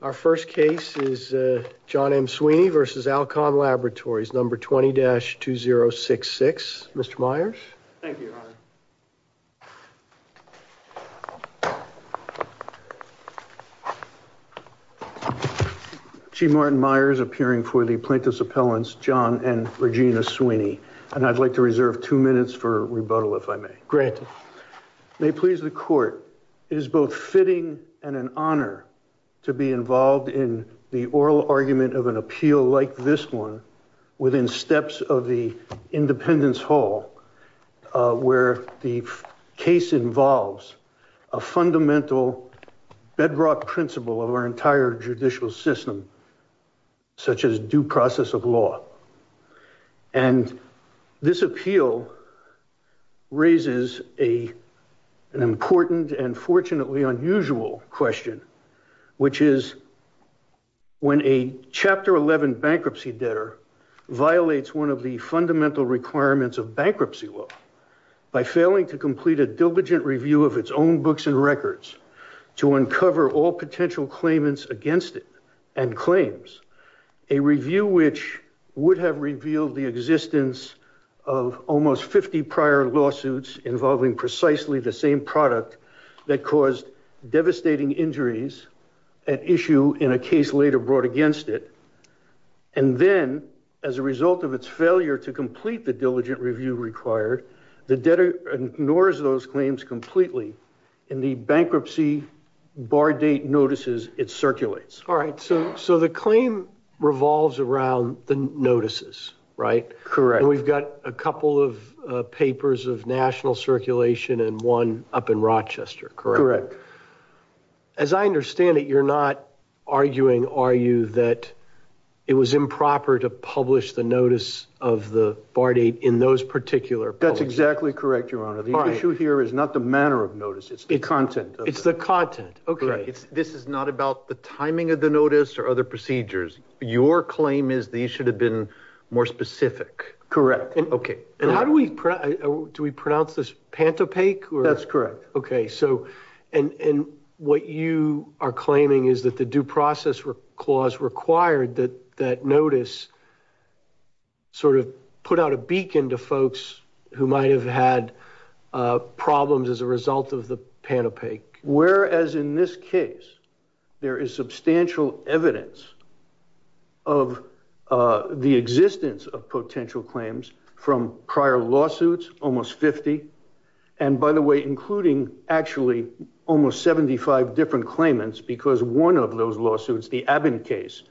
Our first case is John M. Sweeney v. Alcon Laboratories, No. 20-2066. Mr. Myers. Thank you, Your Honor. Chief Martin Myers, appearing for the plaintiff's appellants, John and Regina Sweeney. And I'd like to reserve two minutes for rebuttal, if I may. Granted. May it please the Court, it is both fitting and an honor to be involved in the oral argument of an appeal like this one within steps of the Independence Hall, where the case involves a fundamental bedrock principle of our entire judicial system, such as due process of law. And this appeal raises an important and fortunately unusual question, which is when a Chapter 11 bankruptcy debtor violates one of the fundamental requirements of bankruptcy law by failing to complete a diligent review of its own books and records to uncover all potential claimants against it and claims a review which would have revealed the existence of almost 50 prior lawsuits involving precisely the same product that caused devastating injuries at issue in a case later brought against it. And then, as a result of its failure to complete the diligent review required, the debtor ignores those claims completely. In the bankruptcy bar date notices, it circulates. All right. So the claim revolves around the notices, right? Correct. We've got a couple of papers of national circulation and one up in Rochester, correct? Correct. As I understand it, you're not arguing, are you, that it was improper to publish the notice of the bar date in those particular... That's exactly correct, Your Honor. The issue here is not the manner of notice. It's the content. It's the content. Okay. This is not about the timing of the notice or other procedures. Your claim is these should have been more specific. Correct. Okay. And how do we... Do we pronounce this pantopaque or... That's correct. Okay. And what you are claiming is that the due process clause required that that notice sort of put out a beacon to folks who might have had problems as a result of the pantopaque. Whereas in this case, there is substantial evidence of the existence of potential claims from prior lawsuits, almost 50. And by the way, including actually almost 75 different claimants, because one of those lawsuits, the Abbott case,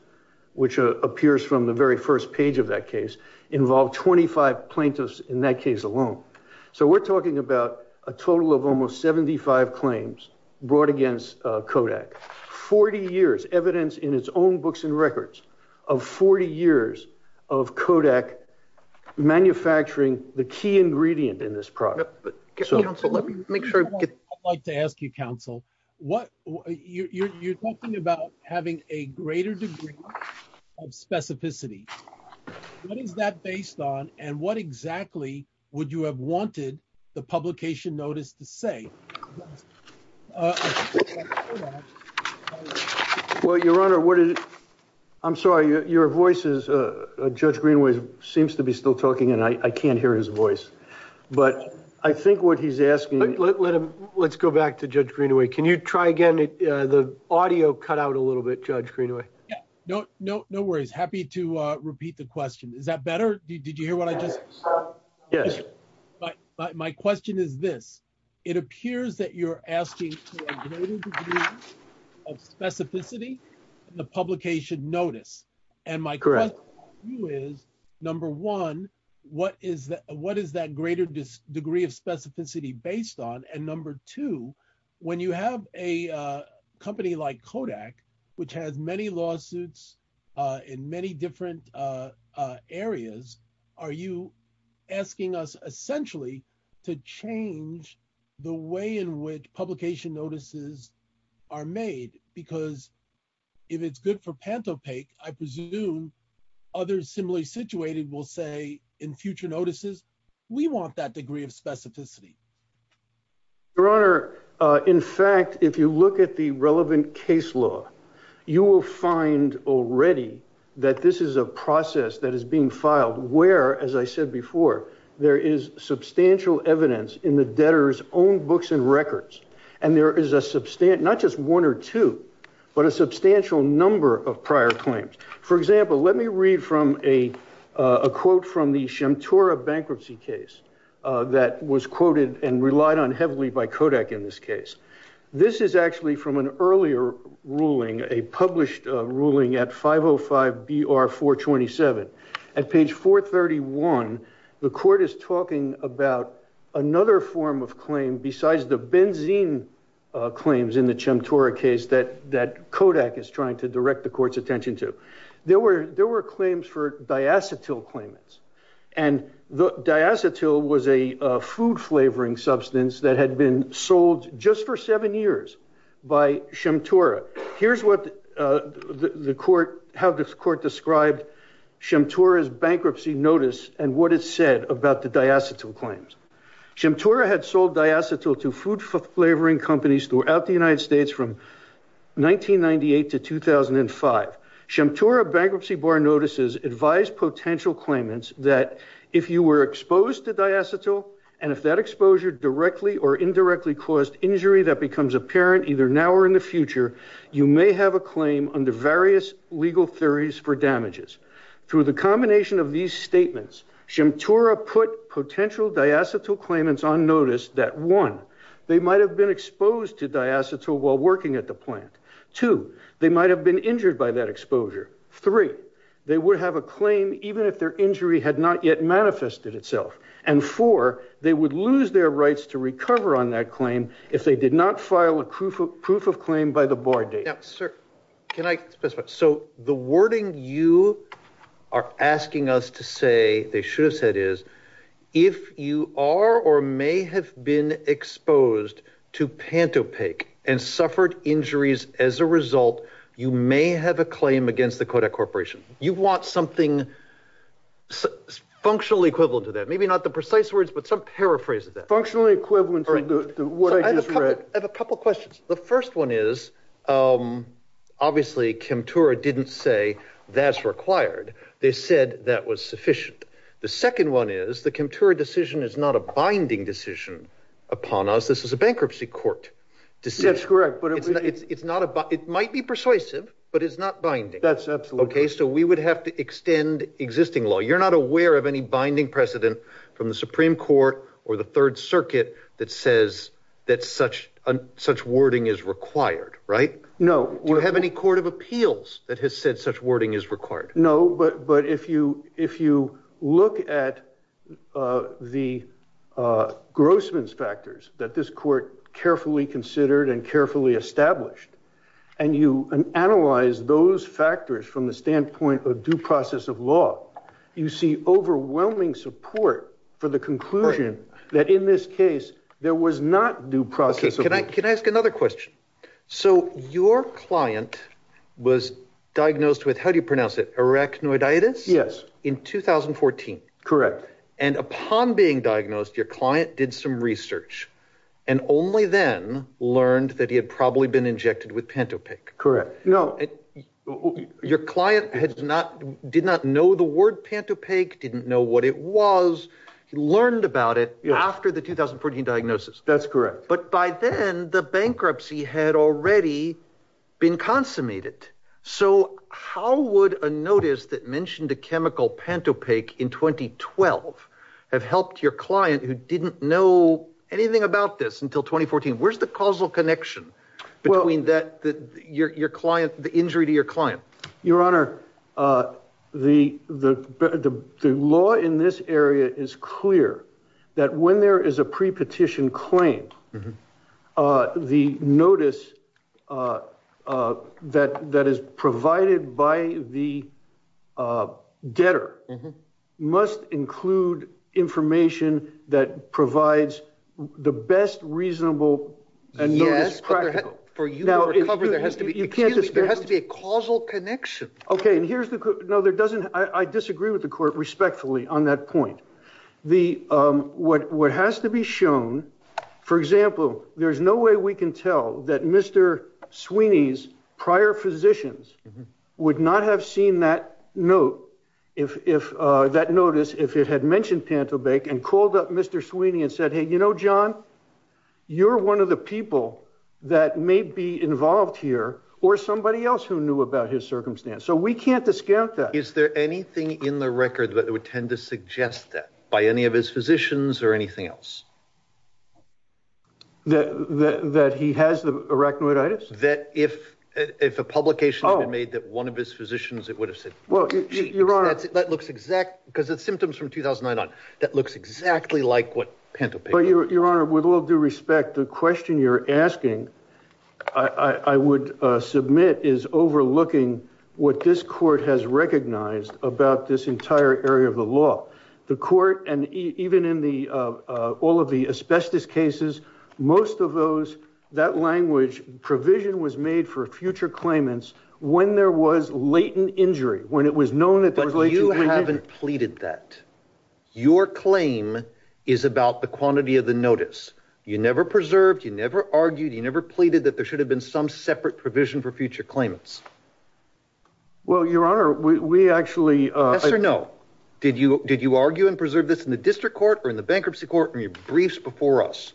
which appears from the very first page of that case, involved 25 plaintiffs in that case alone. So we're talking about a total of almost 75 claims brought against Kodak. 40 years, evidence in its own books and records of 40 years of Kodak manufacturing the key ingredient in this product. Yep. But counsel, let me make sure... I'd like to ask you, counsel, you're talking about having a greater degree of specificity. What is that based on? And what exactly would you have wanted the publication notice to say? Well, your honor, what is... I'm sorry, your voice is... Judge Greenway seems to be still talking and I can't hear his voice. But I think what he's asking... Let's go back to Judge Greenway. Can you try again? The audio cut out a little bit, Judge Greenway. No worries. Happy to repeat the question. Is that better? Did you hear what I just... Yes. But my question is this, it appears that you're asking for a greater degree of specificity in the publication notice. And my question to you is, number one, what is that greater degree of specificity based on? And number two, when you have a company like Kodak, which has many lawsuits in many different areas, are you asking us essentially to change the way in which publication notices are made? Because if it's good for Pantopaque, I presume others similarly situated will say in future notices, we want that degree of specificity. Your honor, in fact, if you look at the relevant case law, you will find already that this is a process that is being filed where, as I said before, there is substantial evidence in the debtor's own books and records. And there is not just one or two, but a substantial number of prior claims. For example, let me read from a quote from the Shemtora bankruptcy case that was quoted and relied on heavily by Kodak in this case. This is actually from an earlier ruling, a published ruling at 505 BR 427. At page 431, the court is talking about another form of claim besides the benzene claims in the Shemtora case that Kodak is trying to direct the food flavoring substance that had been sold just for seven years by Shemtora. Here's how the court described Shemtora's bankruptcy notice and what it said about the diacetyl claims. Shemtora had sold diacetyl to food flavoring companies throughout the United States from 1998 to 2005. Shemtora bankruptcy bar notices advise potential claimants that if you were exposed to diacetyl, and if that exposure directly or indirectly caused injury that becomes apparent either now or in the future, you may have a claim under various legal theories for damages. Through the combination of these statements, Shemtora put potential diacetyl claimants on notice that one, they might have been exposed to diacetyl while working at the plant. Two, they might have been injured by that exposure. Three, they would have a claim even if their injury had not yet manifested itself. And four, they would lose their rights to recover on that claim if they did not file a proof of proof of claim by the bar date. Sir, can I specify? So the wording you are asking us to say, they should have said is, if you are or may have been exposed to pantopaque and suffered injuries as a result, you may have a claim against the Kodak Corporation. You want something functionally equivalent to that. Maybe not the precise words, but some paraphrase of that. Functionally equivalent to what I just read. I have a couple questions. The first one is, obviously Shemtora didn't say that's required. They said that was sufficient. The second one is the Kemptora decision is not a binding decision upon us. This is a bankruptcy court decision. That's correct. But it's not, it might be persuasive, but it's not binding. That's absolutely. Okay. So we would have to extend existing law. You're not aware of any binding precedent from the Supreme Court or the third circuit that says that such wording is required, right? No. Do you have any court of appeals that has said such wording is required? No, but, but if you, if you look at the Grossman's factors that this court carefully considered and carefully established, and you analyze those factors from the standpoint of due process of law, you see overwhelming support for the conclusion that in this case, there was not due process. Can I ask another question? So your client was diagnosed with, how do you pronounce it? Arachnoiditis? Yes. In 2014. Correct. And upon being diagnosed, your client did some research and only then learned that he had probably been injected with Pantopaque. Correct. No. Your client had not, did not know the word Pantopaque, didn't know what it was. He learned about it after the 2014 diagnosis. That's correct. But by then the bankruptcy had already been consummated. So how would a notice that mentioned a chemical Pantopaque in 2012 have helped your client who didn't know anything about this until 2014? Where's the causal connection between that, your client, the injury to your client? Your Honor, the law in this area is clear that when there is a pre-petition claim, the notice that is provided by the debtor must include information that provides the best reasonable and most practical. Yes, for you to recover there has to be, excuse me, there has to be a causal connection. Okay, and here's the, no there doesn't, I disagree with the court respectfully on that point. The, what has to be shown, for example, there's no way we can tell that Mr. Sweeney's prior physicians would not have seen that note, if that notice, if it had mentioned Pantopaque and called up Mr. Sweeney and said, hey, you know, John, you're one of the people that may be involved here or somebody else who knew about his circumstance. So we can't discount that. Is there anything in the record that would tend to suggest that by any of his physicians or anything else? That he has the arachnoiditis? That if a publication had been made that one of his physicians, it would have said, well, that looks exact, because the symptoms from 2009 on, that looks exactly like what Pantopaque. Your Honor, with all due respect, the question you're about this entire area of the law, the court, and even in the, all of the asbestos cases, most of those, that language, provision was made for future claimants when there was latent injury, when it was known that there was latent injury. But you haven't pleaded that. Your claim is about the quantity of the notice. You never preserved, you never argued, you never pleaded that there was latent injury. Yes or no? Did you argue and preserve this in the district court or in the bankruptcy court in your briefs before us?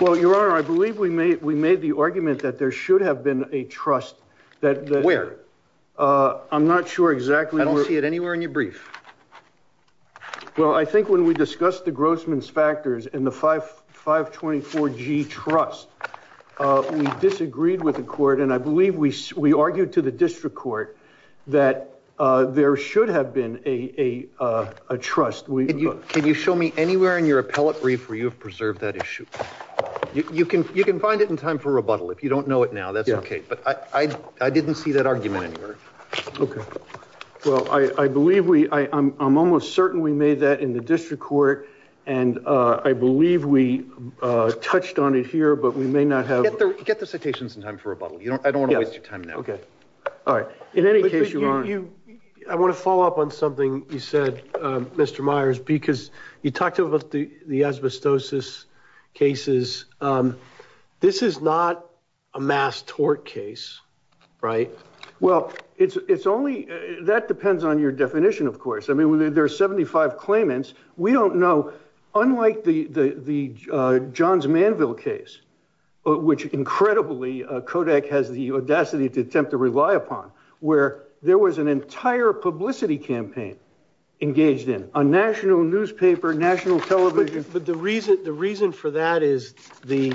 Well, Your Honor, I believe we made the argument that there should have been a trust. Where? I'm not sure exactly. I don't see it anywhere in your brief. Well, I think when we discussed the Grossman's factors in the 524G trust, we disagreed with the court. And I believe we argued to the district court that there should have been a trust. Can you show me anywhere in your appellate brief where you have preserved that issue? You can find it in time for rebuttal. If you don't know it now, that's okay. But I didn't see that argument anywhere. Okay. Well, I believe we, I'm almost certain we made that in the district court. And I believe we touched on it here, but we may not get the citations in time for rebuttal. I don't want to waste your time now. Okay. All right. In any case, Your Honor, I want to follow up on something you said, Mr. Myers, because you talked about the asbestosis cases. This is not a mass tort case, right? Well, that depends on your definition, of course. I mean, there are 75 claimants. We don't know, unlike the Johns Manville case, which incredibly Kodak has the audacity to attempt to rely upon, where there was an entire publicity campaign engaged in, a national newspaper, national television. But the reason for that is the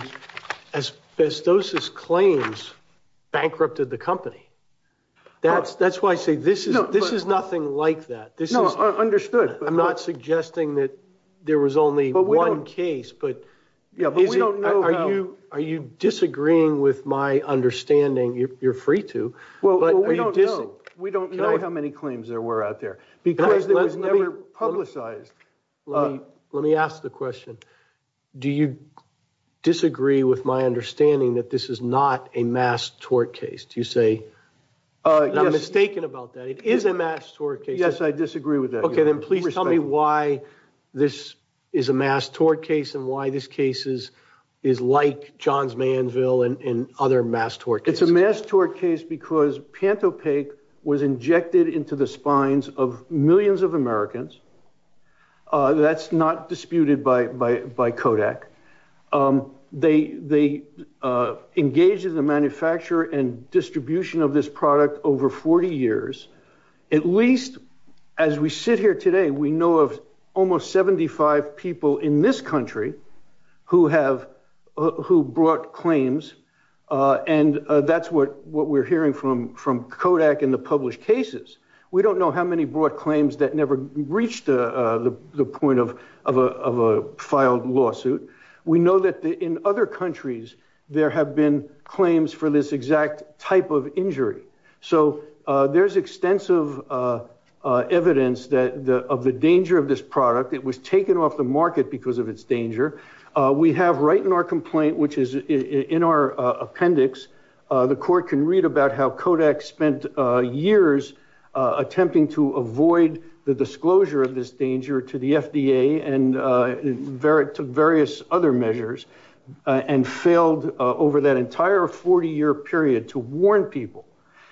asbestosis claims bankrupted the company. That's why I say this is nothing like that. No, understood. I'm not suggesting that there was only one case, but are you disagreeing with my understanding? You're free to. We don't know how many claims there were out there because it was never publicized. Let me ask the question. Do you disagree with my understanding that this is not a mass tort case? Do you say I'm mistaken about that? It is a mass tort case. Yes, I disagree with that. Please tell me why this is a mass tort case and why this case is like Johns Manville and other mass tort cases. It's a mass tort case because Pantopaque was injected into the spines of millions of Americans. That's not disputed by Kodak. They engaged in the manufacture and we know of almost 75 people in this country who brought claims, and that's what we're hearing from Kodak and the published cases. We don't know how many brought claims that never reached the point of a filed lawsuit. We know that in other countries, there have been of the danger of this product. It was taken off the market because of its danger. We have right in our complaint, which is in our appendix, the court can read about how Kodak spent years attempting to avoid the disclosure of this danger to the FDA and to various other measures and failed over that entire 40-year period to warn people.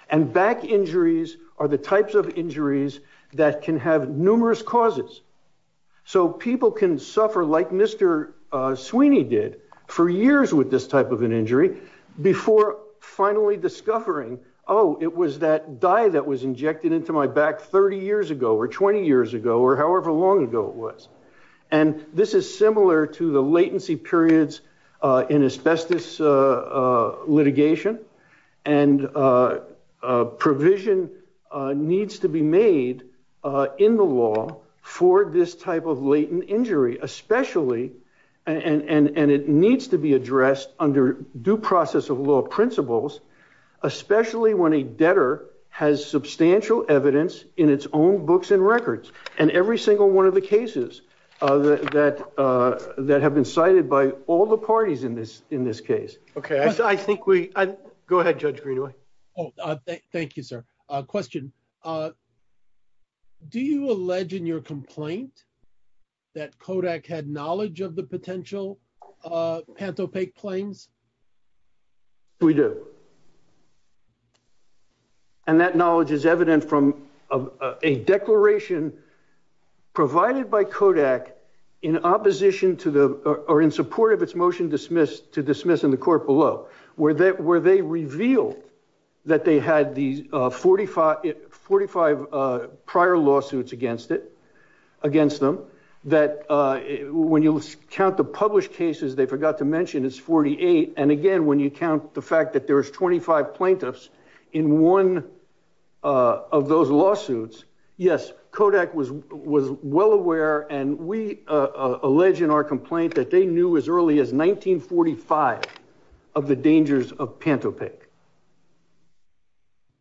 And back injuries are the types of injuries that can have numerous causes. So people can suffer like Mr. Sweeney did for years with this type of an injury before finally discovering, oh, it was that dye that was injected into my back 30 years ago or 20 years ago or however long ago it was. And this is similar to the latency periods in asbestos litigation and a provision needs to be made in the law for this type of latent injury, especially, and it needs to be addressed under due process of law principles, especially when a debtor has substantial evidence in its own books and records and every single one of the cases that have been cited by all the parties in this case. Okay, I think we, go ahead, Judge Greenaway. Oh, thank you, sir. Question. Do you allege in your complaint that Kodak had knowledge of the potential pantopaque planes? We do. And that knowledge is evident from a declaration provided by Kodak in opposition to the, or in support of its motion to dismiss in the court below, where they revealed that they had the 45 prior lawsuits against it, against them, that when you count the published cases, they forgot to mention it's 48. And again, when you count the fact that there was 25 plaintiffs in one of those lawsuits, yes, Kodak was well aware. And we allege in our complaint that they knew as early as 1945 of the dangers of pantopaque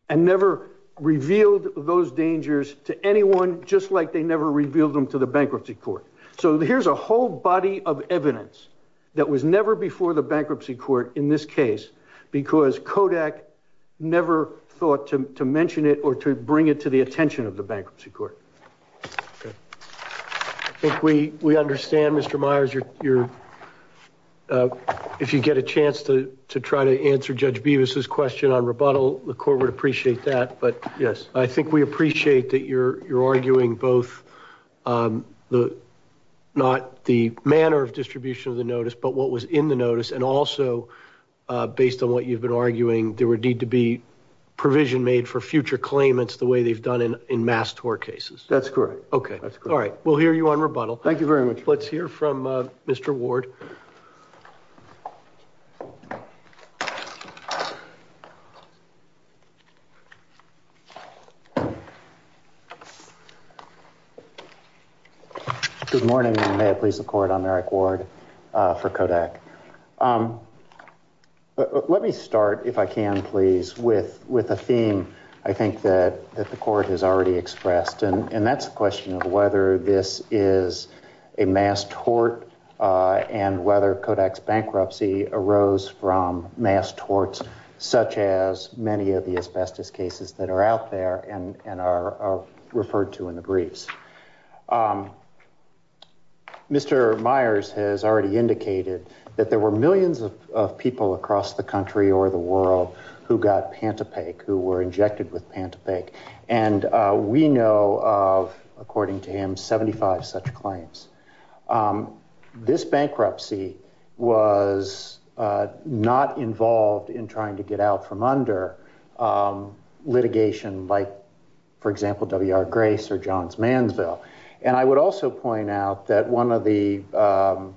and never revealed those dangers to anyone, just like they never revealed them to the bankruptcy court. So here's a whole body of evidence that was never before the bankruptcy court in this case, because Kodak never thought to mention it or to bring it to the attention of the bankruptcy court. I think we understand, Mr. Myers, if you get a chance to try to answer Judge Beavis's question on rebuttal, the court would appreciate that. But I think we appreciate that you're arguing both not the manner of distribution of the notice, but what was in the notice and also based on what you've been arguing, there would need to be provision made for future claimants the way they've done in mass tort cases. That's correct. Okay. All right. We'll hear you on rebuttal. Thank you very much. Let's hear from Mr. Ward. Good morning, and may it please the court. I'm Eric Ward for Kodak. Let me start, if I can, please, with a theme I think that the court has already expressed, and that's the question of whether this is a mass tort and whether Kodak's bankruptcy arose from mass torts, such as many of the asbestos cases that are out there and are referred to in the briefs. Mr. Myers has already indicated that there were millions of people across the country or the world who got Pantopec, who were injected with Pantopec, and we know of, according to him, 75 such claims. This bankruptcy was not involved in trying to get out from under litigation like, for example, W.R. Grace or Johns Mansville, and I would also point out that one of the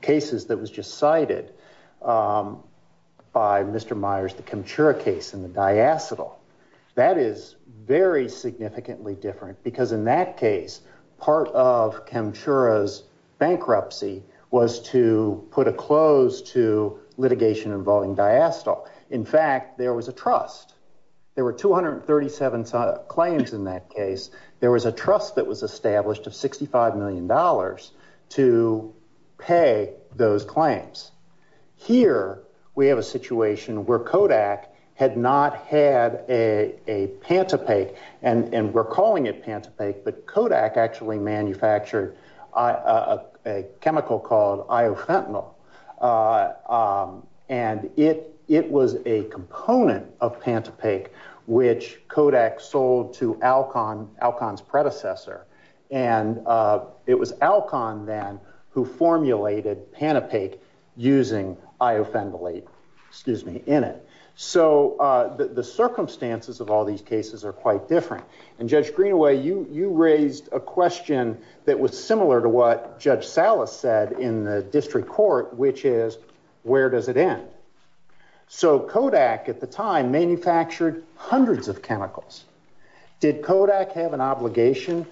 cases that was just cited by Mr. Myers, the Kemchura case in the diacetyl, that is very significantly different because, in that case, part of Kemchura's bankruptcy was to put a close to litigation involving diacetyl. In fact, there was a trust. There were 237 claims in that case. There was a trust that was established of $65 million to pay those claims. Here, we have a situation where Kodak had not had a Pantopec, and we're calling it Pantopec, but Kodak actually manufactured a chemical called Iofentanil, and it was a component of Pantopec, which Kodak sold to Alcon, Alcon's predecessor, and it was Alcon then who formulated Pantopec using Iofentanil in it. So, the circumstances of all these cases are quite different, and Judge Greenaway, you raised a question that was similar to what Judge Salas said in the district court, which is, where does it end? So, Kodak, at the time, manufactured hundreds of chemicals. Did Kodak have an obligation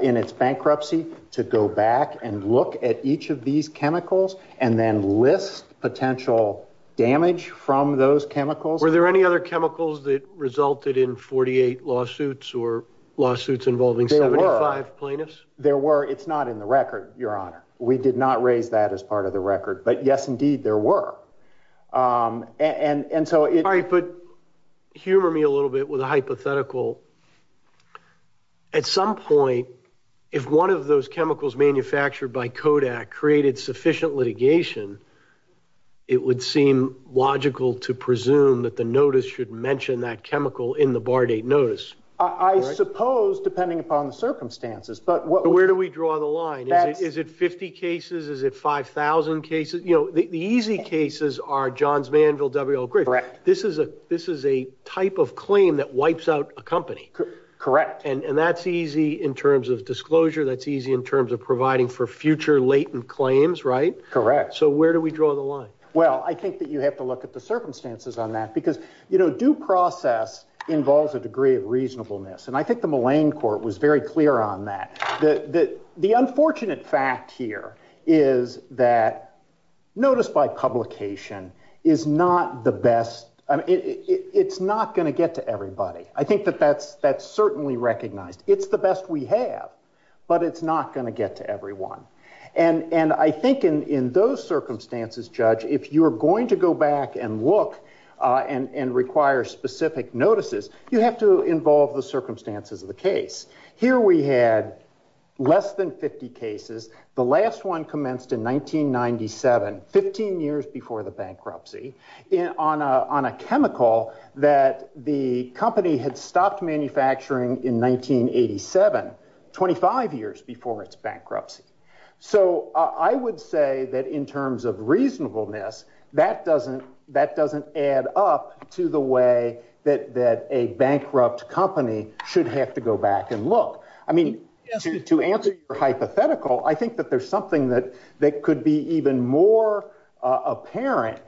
in its bankruptcy to go back and look at each of these chemicals and then list potential damage from those chemicals? Were there any other chemicals that resulted in 48 lawsuits or lawsuits involving 75 plaintiffs? There were. It's not in the record, Your Honor. We did not raise that as part of the record, but yes, indeed, there were. Humor me a little bit with a hypothetical. At some point, if one of those chemicals manufactured by Kodak created sufficient litigation, it would seem logical to presume that the notice should mention that chemical in the bar date notice. I suppose, depending upon the circumstances. But where do we draw the line? Is it 50 cases? Is it 5,000 cases? You know, the easy cases are Johns Manville, W.L. Griffith. This is a type of claim that wipes out a company. Correct. And that's easy in terms of disclosure. That's easy in terms of providing for future latent claims, right? Correct. So where do we draw the line? Well, I think that you have to look at the circumstances on that because, you know, due process involves a degree of reasonableness. And I think the Mulane Court was very clear on that. The unfortunate fact here is that notice by publication is not the best. It's not going to get to everybody. I think that that's certainly recognized. It's the best we have, but it's not going to get to everyone. And I think in those circumstances, Judge, if you're going to go back and look and require specific notices, you have to involve the circumstances of the case. Here we had less than 50 cases. The last one commenced in 1997, 15 years before the bankruptcy, on a chemical that the company had stopped manufacturing in 1987, 25 years before its bankruptcy. So I would say that in terms of reasonableness, that doesn't add up to the way that a bankrupt company should have to go back and look. I mean, to answer your hypothetical, I think that there's something that could be even more apparent.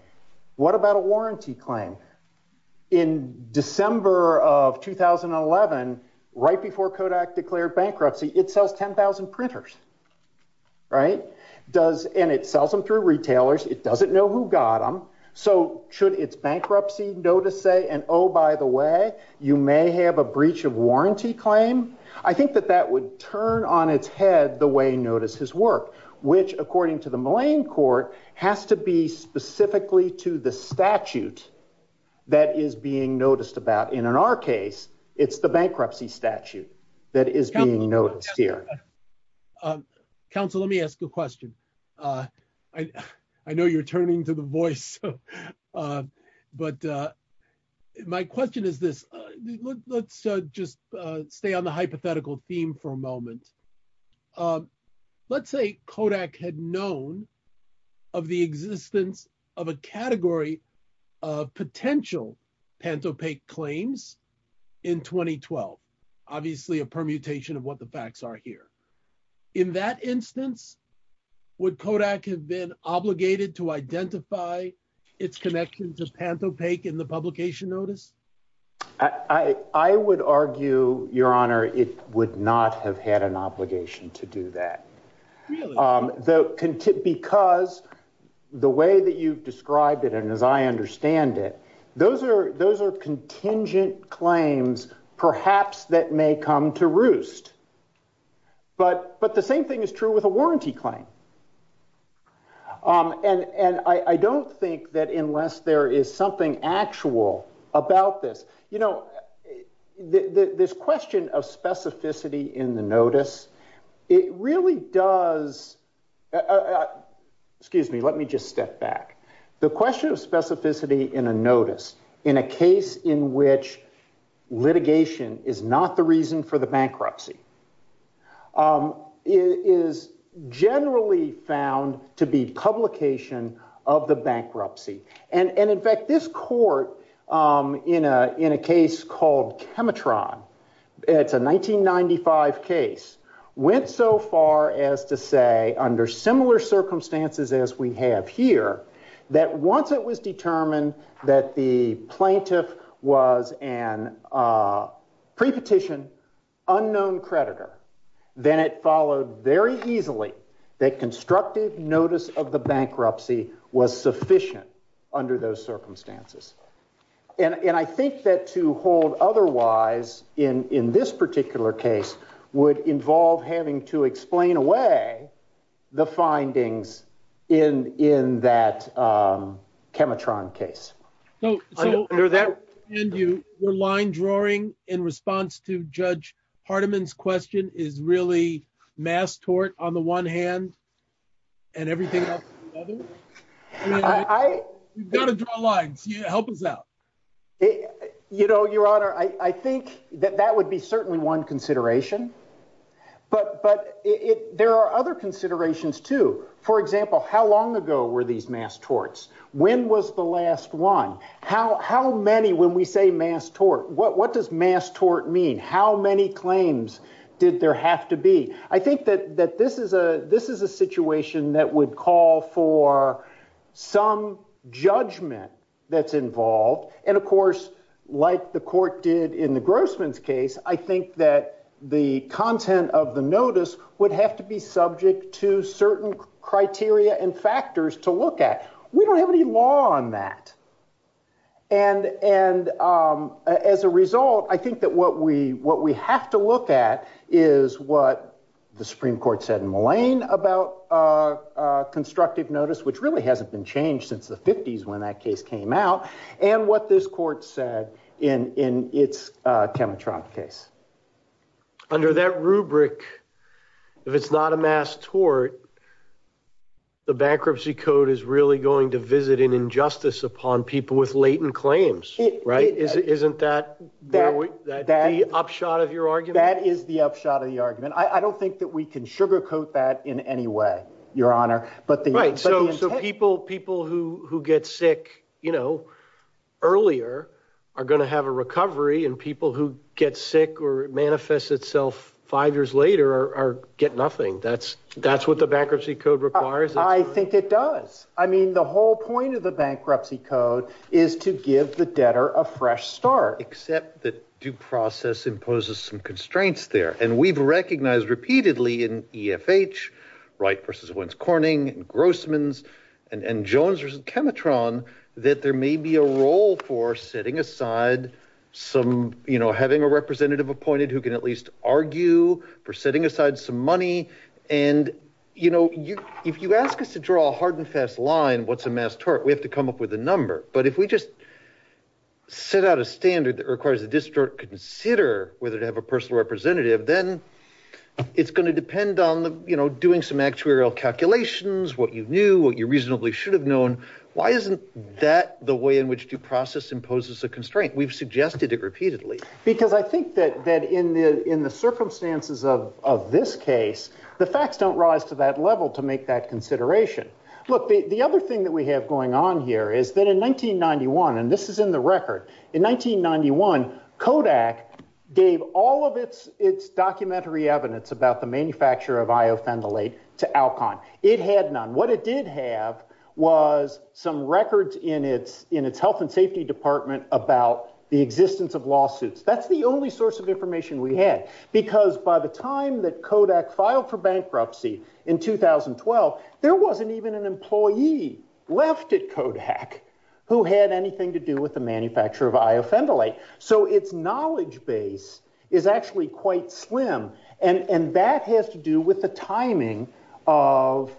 What about a warranty claim? In December of 2011, right before Kodak declared bankruptcy, it sells 10,000 printers, right? And it sells them through retailers. It doesn't know who got them. So should its bankruptcy notice say, and oh, by the way, you may have a breach of warranty claim? I think that that would turn on its head the way notice has worked, which, according to the Mullane Court, has to be specifically to the statute that is being noticed about. In our case, it's the bankruptcy statute that is being noticed here. Counsel, let me ask a question. I know you're turning to the voice. But my question is this. Let's just stay on the hypothetical theme for a moment. Let's say Kodak had known of the existence of a category of potential Pantopaque claims in 2012, obviously a permutation of what the facts are here. In that instance, would Kodak have been obligated to identify its connection to Pantopaque in the publication notice? I would argue, Your Honor, it would not have had an obligation to do that. Because the way that you've described it, and as I understand it, those are contingent claims, perhaps that may come to roost. But the same thing is true with a warranty claim. And I don't think that unless there is something actual about this, you know, this question of specificity in the notice, it really does... Excuse me, let me just step back. The question of specificity in a notice, in a case in which litigation is not the reason for bankruptcy, is generally found to be publication of the bankruptcy. And in fact, this court, in a case called Chemitron, it's a 1995 case, went so far as to say, under similar circumstances as we have here, that once it was determined that the plaintiff was a prepetition unknown creditor, then it followed very easily that constructive notice of the bankruptcy was sufficient under those circumstances. And I think that to hold otherwise in this particular case would involve having to explain away the findings in that Chemitron case. So I understand you, your line drawing in response to Judge Partiman's question is really mass tort on the one hand, and everything else on the other? You've got to draw lines, help us out. You know, your honor, I think that that would be certainly one consideration. But there are other considerations too. For example, how long ago were these mass torts? When was the last one? How many, when we say mass tort, what does mass tort mean? How many claims did there have to be? I think that this is a situation that would call for some judgment that's involved. And of course, like the court did in the Grossman's case, I think that the content of the notice would have to be subject to certain criteria and factors to look at. We don't have any law on that. And as a result, I think that what we have to look at is what the Supreme Court said in Mullane about constructive notice, which really hasn't been changed since the 50s when that case came out, and what this court said in its Temetron case. Under that rubric, if it's not a mass tort, the bankruptcy code is really going to visit an injustice upon people with latent claims, right? Isn't that the upshot of your argument? That is the upshot of the argument. I don't think that we can sugarcoat that in any way, Your Honor. Right. So people who get sick earlier are going to have a recovery, and people who get sick or manifest itself five years later get nothing. That's what the bankruptcy code requires. I think it does. I mean, the whole point of the bankruptcy code is to give the debtor a fresh start. Except that due process imposes some constraints there. And we've recognized repeatedly in EFH, Wright v. Wentz-Corning, Grossman's, and Jones v. Temetron, that there may be a role for setting aside some, you know, having a representative appointed who can at least argue for setting aside some money. And, you know, if you ask us to draw a hard and fast line, what's a mass tort, we have to come up with a number. But if we just set out a standard that requires the district to consider whether to have a personal representative, then it's going to depend on, you know, doing some actuarial calculations, what you knew, what you reasonably should have known. Why isn't that the way in which due process imposes a constraint? We've suggested it repeatedly. Because I think that in the circumstances of this case, the facts don't rise to that level to make that consideration. Look, the other thing that we have going on here is that in 1991, and this is in the record, in 1991, Kodak gave all of its documentary evidence about the manufacture of iophendylate to Alcon. It had none. What it did have was some records in its health and safety department about the existence of lawsuits. That's the only source of information we had. Because by the time that Kodak filed for bankruptcy in 2012, there wasn't even an employee left at Kodak who had anything to do with the manufacture of iophendylate. So its knowledge base is actually quite slim. And that has to do with the timing of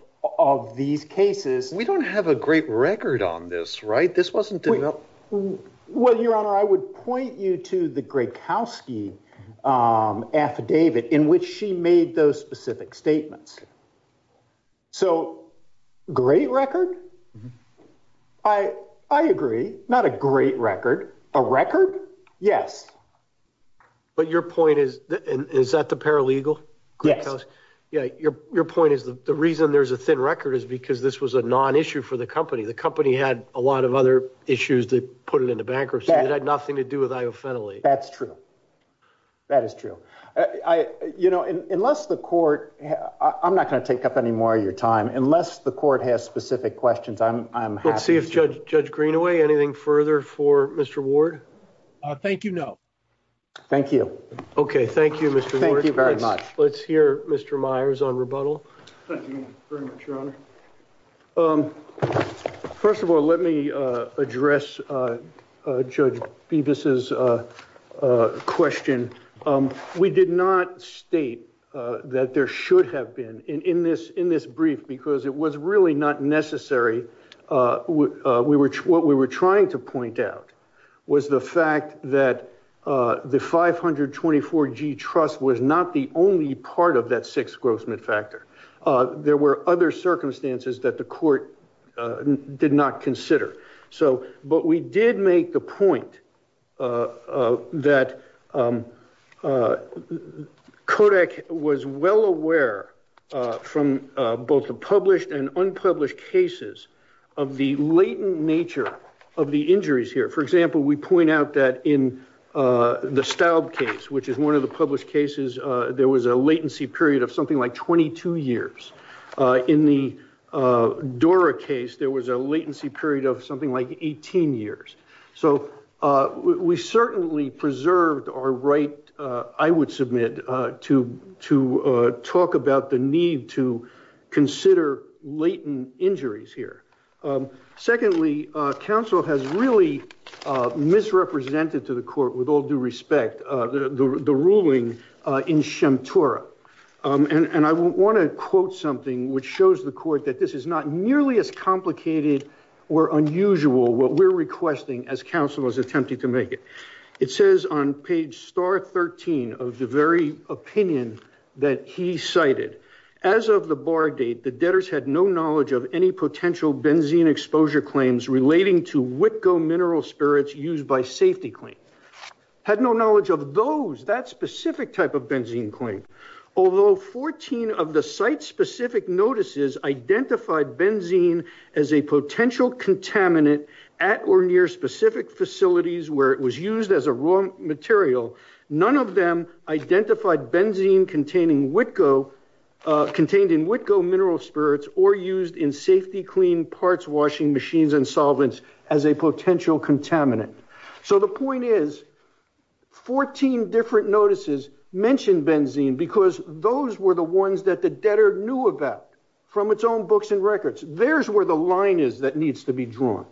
these cases. We don't have a great record on this, right? This wasn't developed. Well, Your Honor, I would point you to the Grykowski affidavit in which she made those statements. So great record? I agree. Not a great record. A record? Yes. But your point is, is that the paralegal? Yes. Your point is the reason there's a thin record is because this was a non-issue for the company. The company had a lot of other issues that put it into bankruptcy that had nothing to do with I'm not going to take up any more of your time unless the court has specific questions. Let's see if Judge Greenaway, anything further for Mr. Ward? Thank you, no. Thank you. Okay. Thank you, Mr. Ward. Thank you very much. Let's hear Mr. Myers on rebuttal. Thank you very much, Your Honor. First of all, let me address Judge Bevis' question. We did not state that there should have been in this brief because it was really not necessary. What we were trying to point out was the fact that the 524G trust was not the only part of that sixth gross mid-factor. There were other circumstances that the court did not consider. But we did make the point that Kodak was well aware from both the published and unpublished cases of the latent nature of the injuries here. For example, we point out that in the Staub case, which is one of the published cases, there was a latency period of something like 22 years. In the Dora case, there was a latency period of something like 18 years. So we certainly preserved our right, I would submit, to talk about the need to consider latent injuries here. Secondly, counsel has really misrepresented to the court with all respect the ruling in Shem Torah. And I want to quote something which shows the court that this is not nearly as complicated or unusual what we're requesting as counsel is attempting to make it. It says on page star 13 of the very opinion that he cited, as of the bar date, the debtors had no knowledge of any potential benzene exposure claims relating to WITCO mineral spirits used by safety clean. Had no knowledge of those, that specific type of benzene claim. Although 14 of the site-specific notices identified benzene as a potential contaminant at or near specific facilities where it was used as a raw material, none of them identified benzene contained in WITCO mineral spirits or used in safety clean parts washing machines and solvents as a potential contaminant. So the point is, 14 different notices mentioned benzene because those were the ones that the debtor knew about from its own books and records. There's where the line is that needs to be drawn.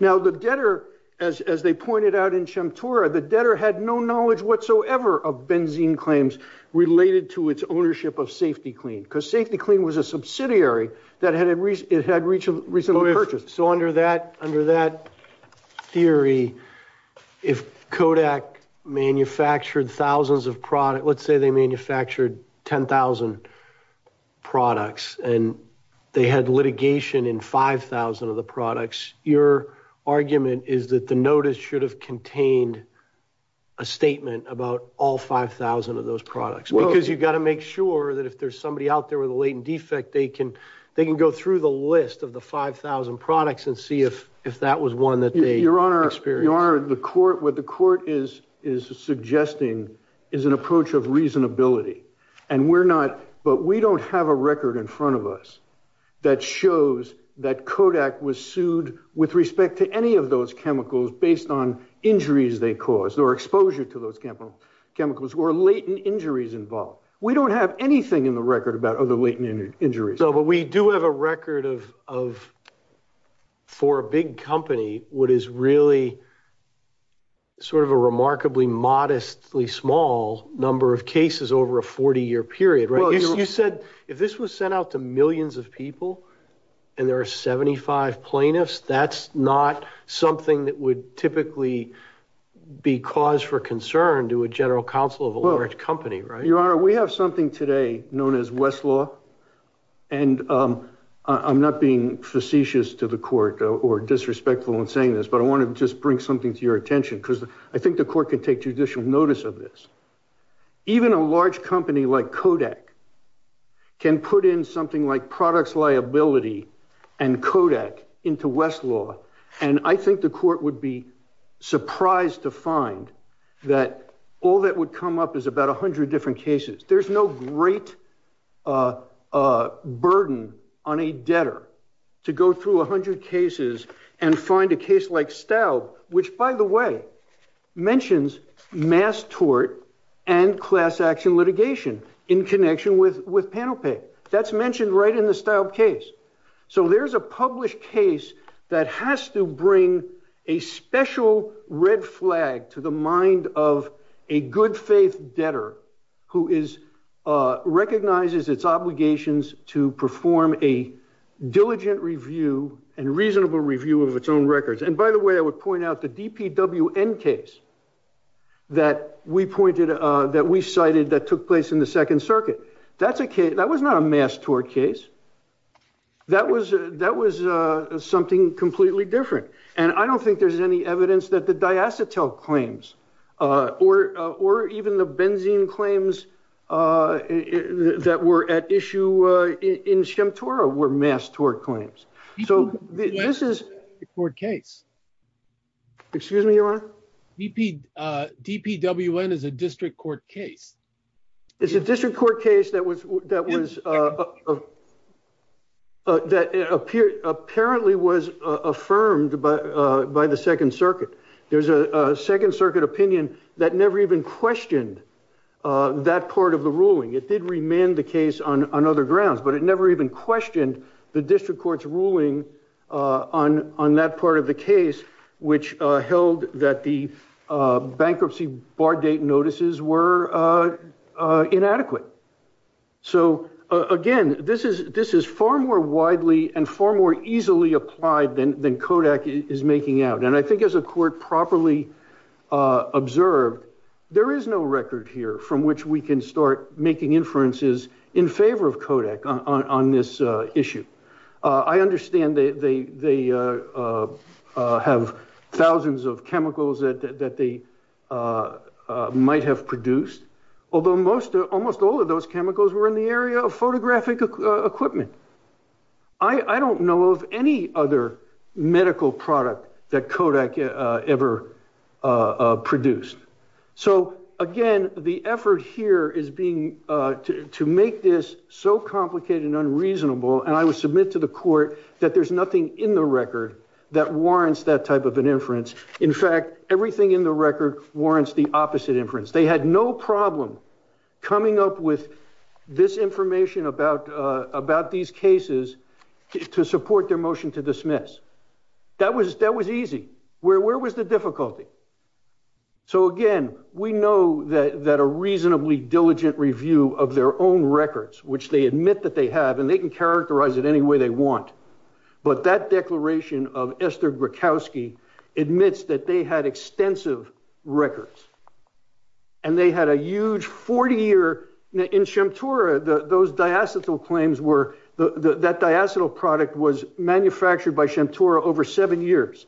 Now the debtor, as they pointed out in Shem Torah, the debtor had no knowledge whatsoever of benzene claims related to its ownership of safety clean because safety clean was a subsidiary that had recently purchased. So under that theory, if Kodak manufactured thousands of products, let's say they manufactured 10,000 products and they had litigation in 5,000 of the products, your argument is that the notice should have contained a statement about all 5,000 of those products because you've got to make sure that if there's somebody out there with a latent defect, they can go through the list of the 5,000 products and see if that was one that they experienced. Your Honor, what the court is suggesting is an approach of reasonability and we're not, but we don't have a record in front of us that shows that Kodak was sued with respect to any of those chemicals based on injuries they caused or exposure to those chemicals or latent injuries involved. We don't have anything in the record about other latent injuries. No, but we do have a record of, for a big company, what is really sort of a remarkably modestly small number of cases over a 40-year period, right? You said if this was sent out to millions of people and there are 75 plaintiffs, that's not something that would typically be cause for concern to a general counsel of a large company, right? Your Honor, we have something today known as Westlaw, and I'm not being facetious to the court or disrespectful in saying this, but I want to just bring something to your attention because I think the court can take judicial notice of this. Even a large company like Kodak can put something like products liability and Kodak into Westlaw, and I think the court would be surprised to find that all that would come up is about 100 different cases. There's no great burden on a debtor to go through 100 cases and find a case like Staub, which, by the way, mentions mass tort and class action litigation in connection with with panel pay. That's mentioned right in the Staub case. So there's a published case that has to bring a special red flag to the mind of a good faith debtor who recognizes its obligations to perform a diligent review and reasonable review of its own records. And by the way, I would point out the DPWN case that we cited that took place in the Second Circuit. That was not a mass tort case. That was something completely different, and I don't think there's any evidence that the diacetyl claims or even the benzene claims that were at issue in Shem Torah were mass tort claims. So this is a court case. Excuse me, Your Honor? DPWN is a district court case. It's a district court case that was that was that appeared apparently was affirmed by the Second Circuit. There's a Second Circuit opinion that never even questioned that part of the ruling. It did remand the case on other grounds, but it never even questioned the district court's ruling on that part of the case, which held that the bankruptcy bar date notices were inadequate. So again, this is far more widely and far more easily applied than Kodak is making out. And I think as a court properly observed, there is no record here from which we can start making inferences in favor of Kodak on this issue. I understand they have thousands of chemicals that they might have produced, although most almost all of those chemicals were in the area of photographic equipment. I don't know of any other medical product that Kodak ever produced. So again, the effort here is being to make this so complicated and unreasonable. And I would submit to the court that there's nothing in the record that warrants that type of an inference. In fact, everything in the record warrants the opposite inference. They had no problem coming up with this information about these cases to support their motion to dismiss. That was easy. Where was the difficulty? So again, we know that a reasonably diligent review of their own records, which they admit that they have, and they can characterize it any way they want, but that declaration of Esther Grakowski admits that they had extensive records. And they had a huge 40-year... In Shemtora, those diacetyl claims were... manufactured by Shemtora over seven years.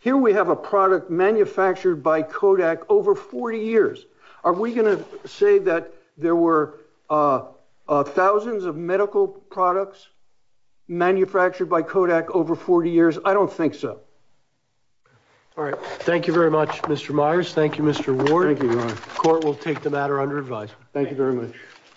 Here we have a product manufactured by Kodak over 40 years. Are we going to say that there were thousands of medical products manufactured by Kodak over 40 years? I don't think so. All right. Thank you very much, Mr. Myers. Thank you, Mr. Ward. Court will take the matter under advisory. Thank you very much.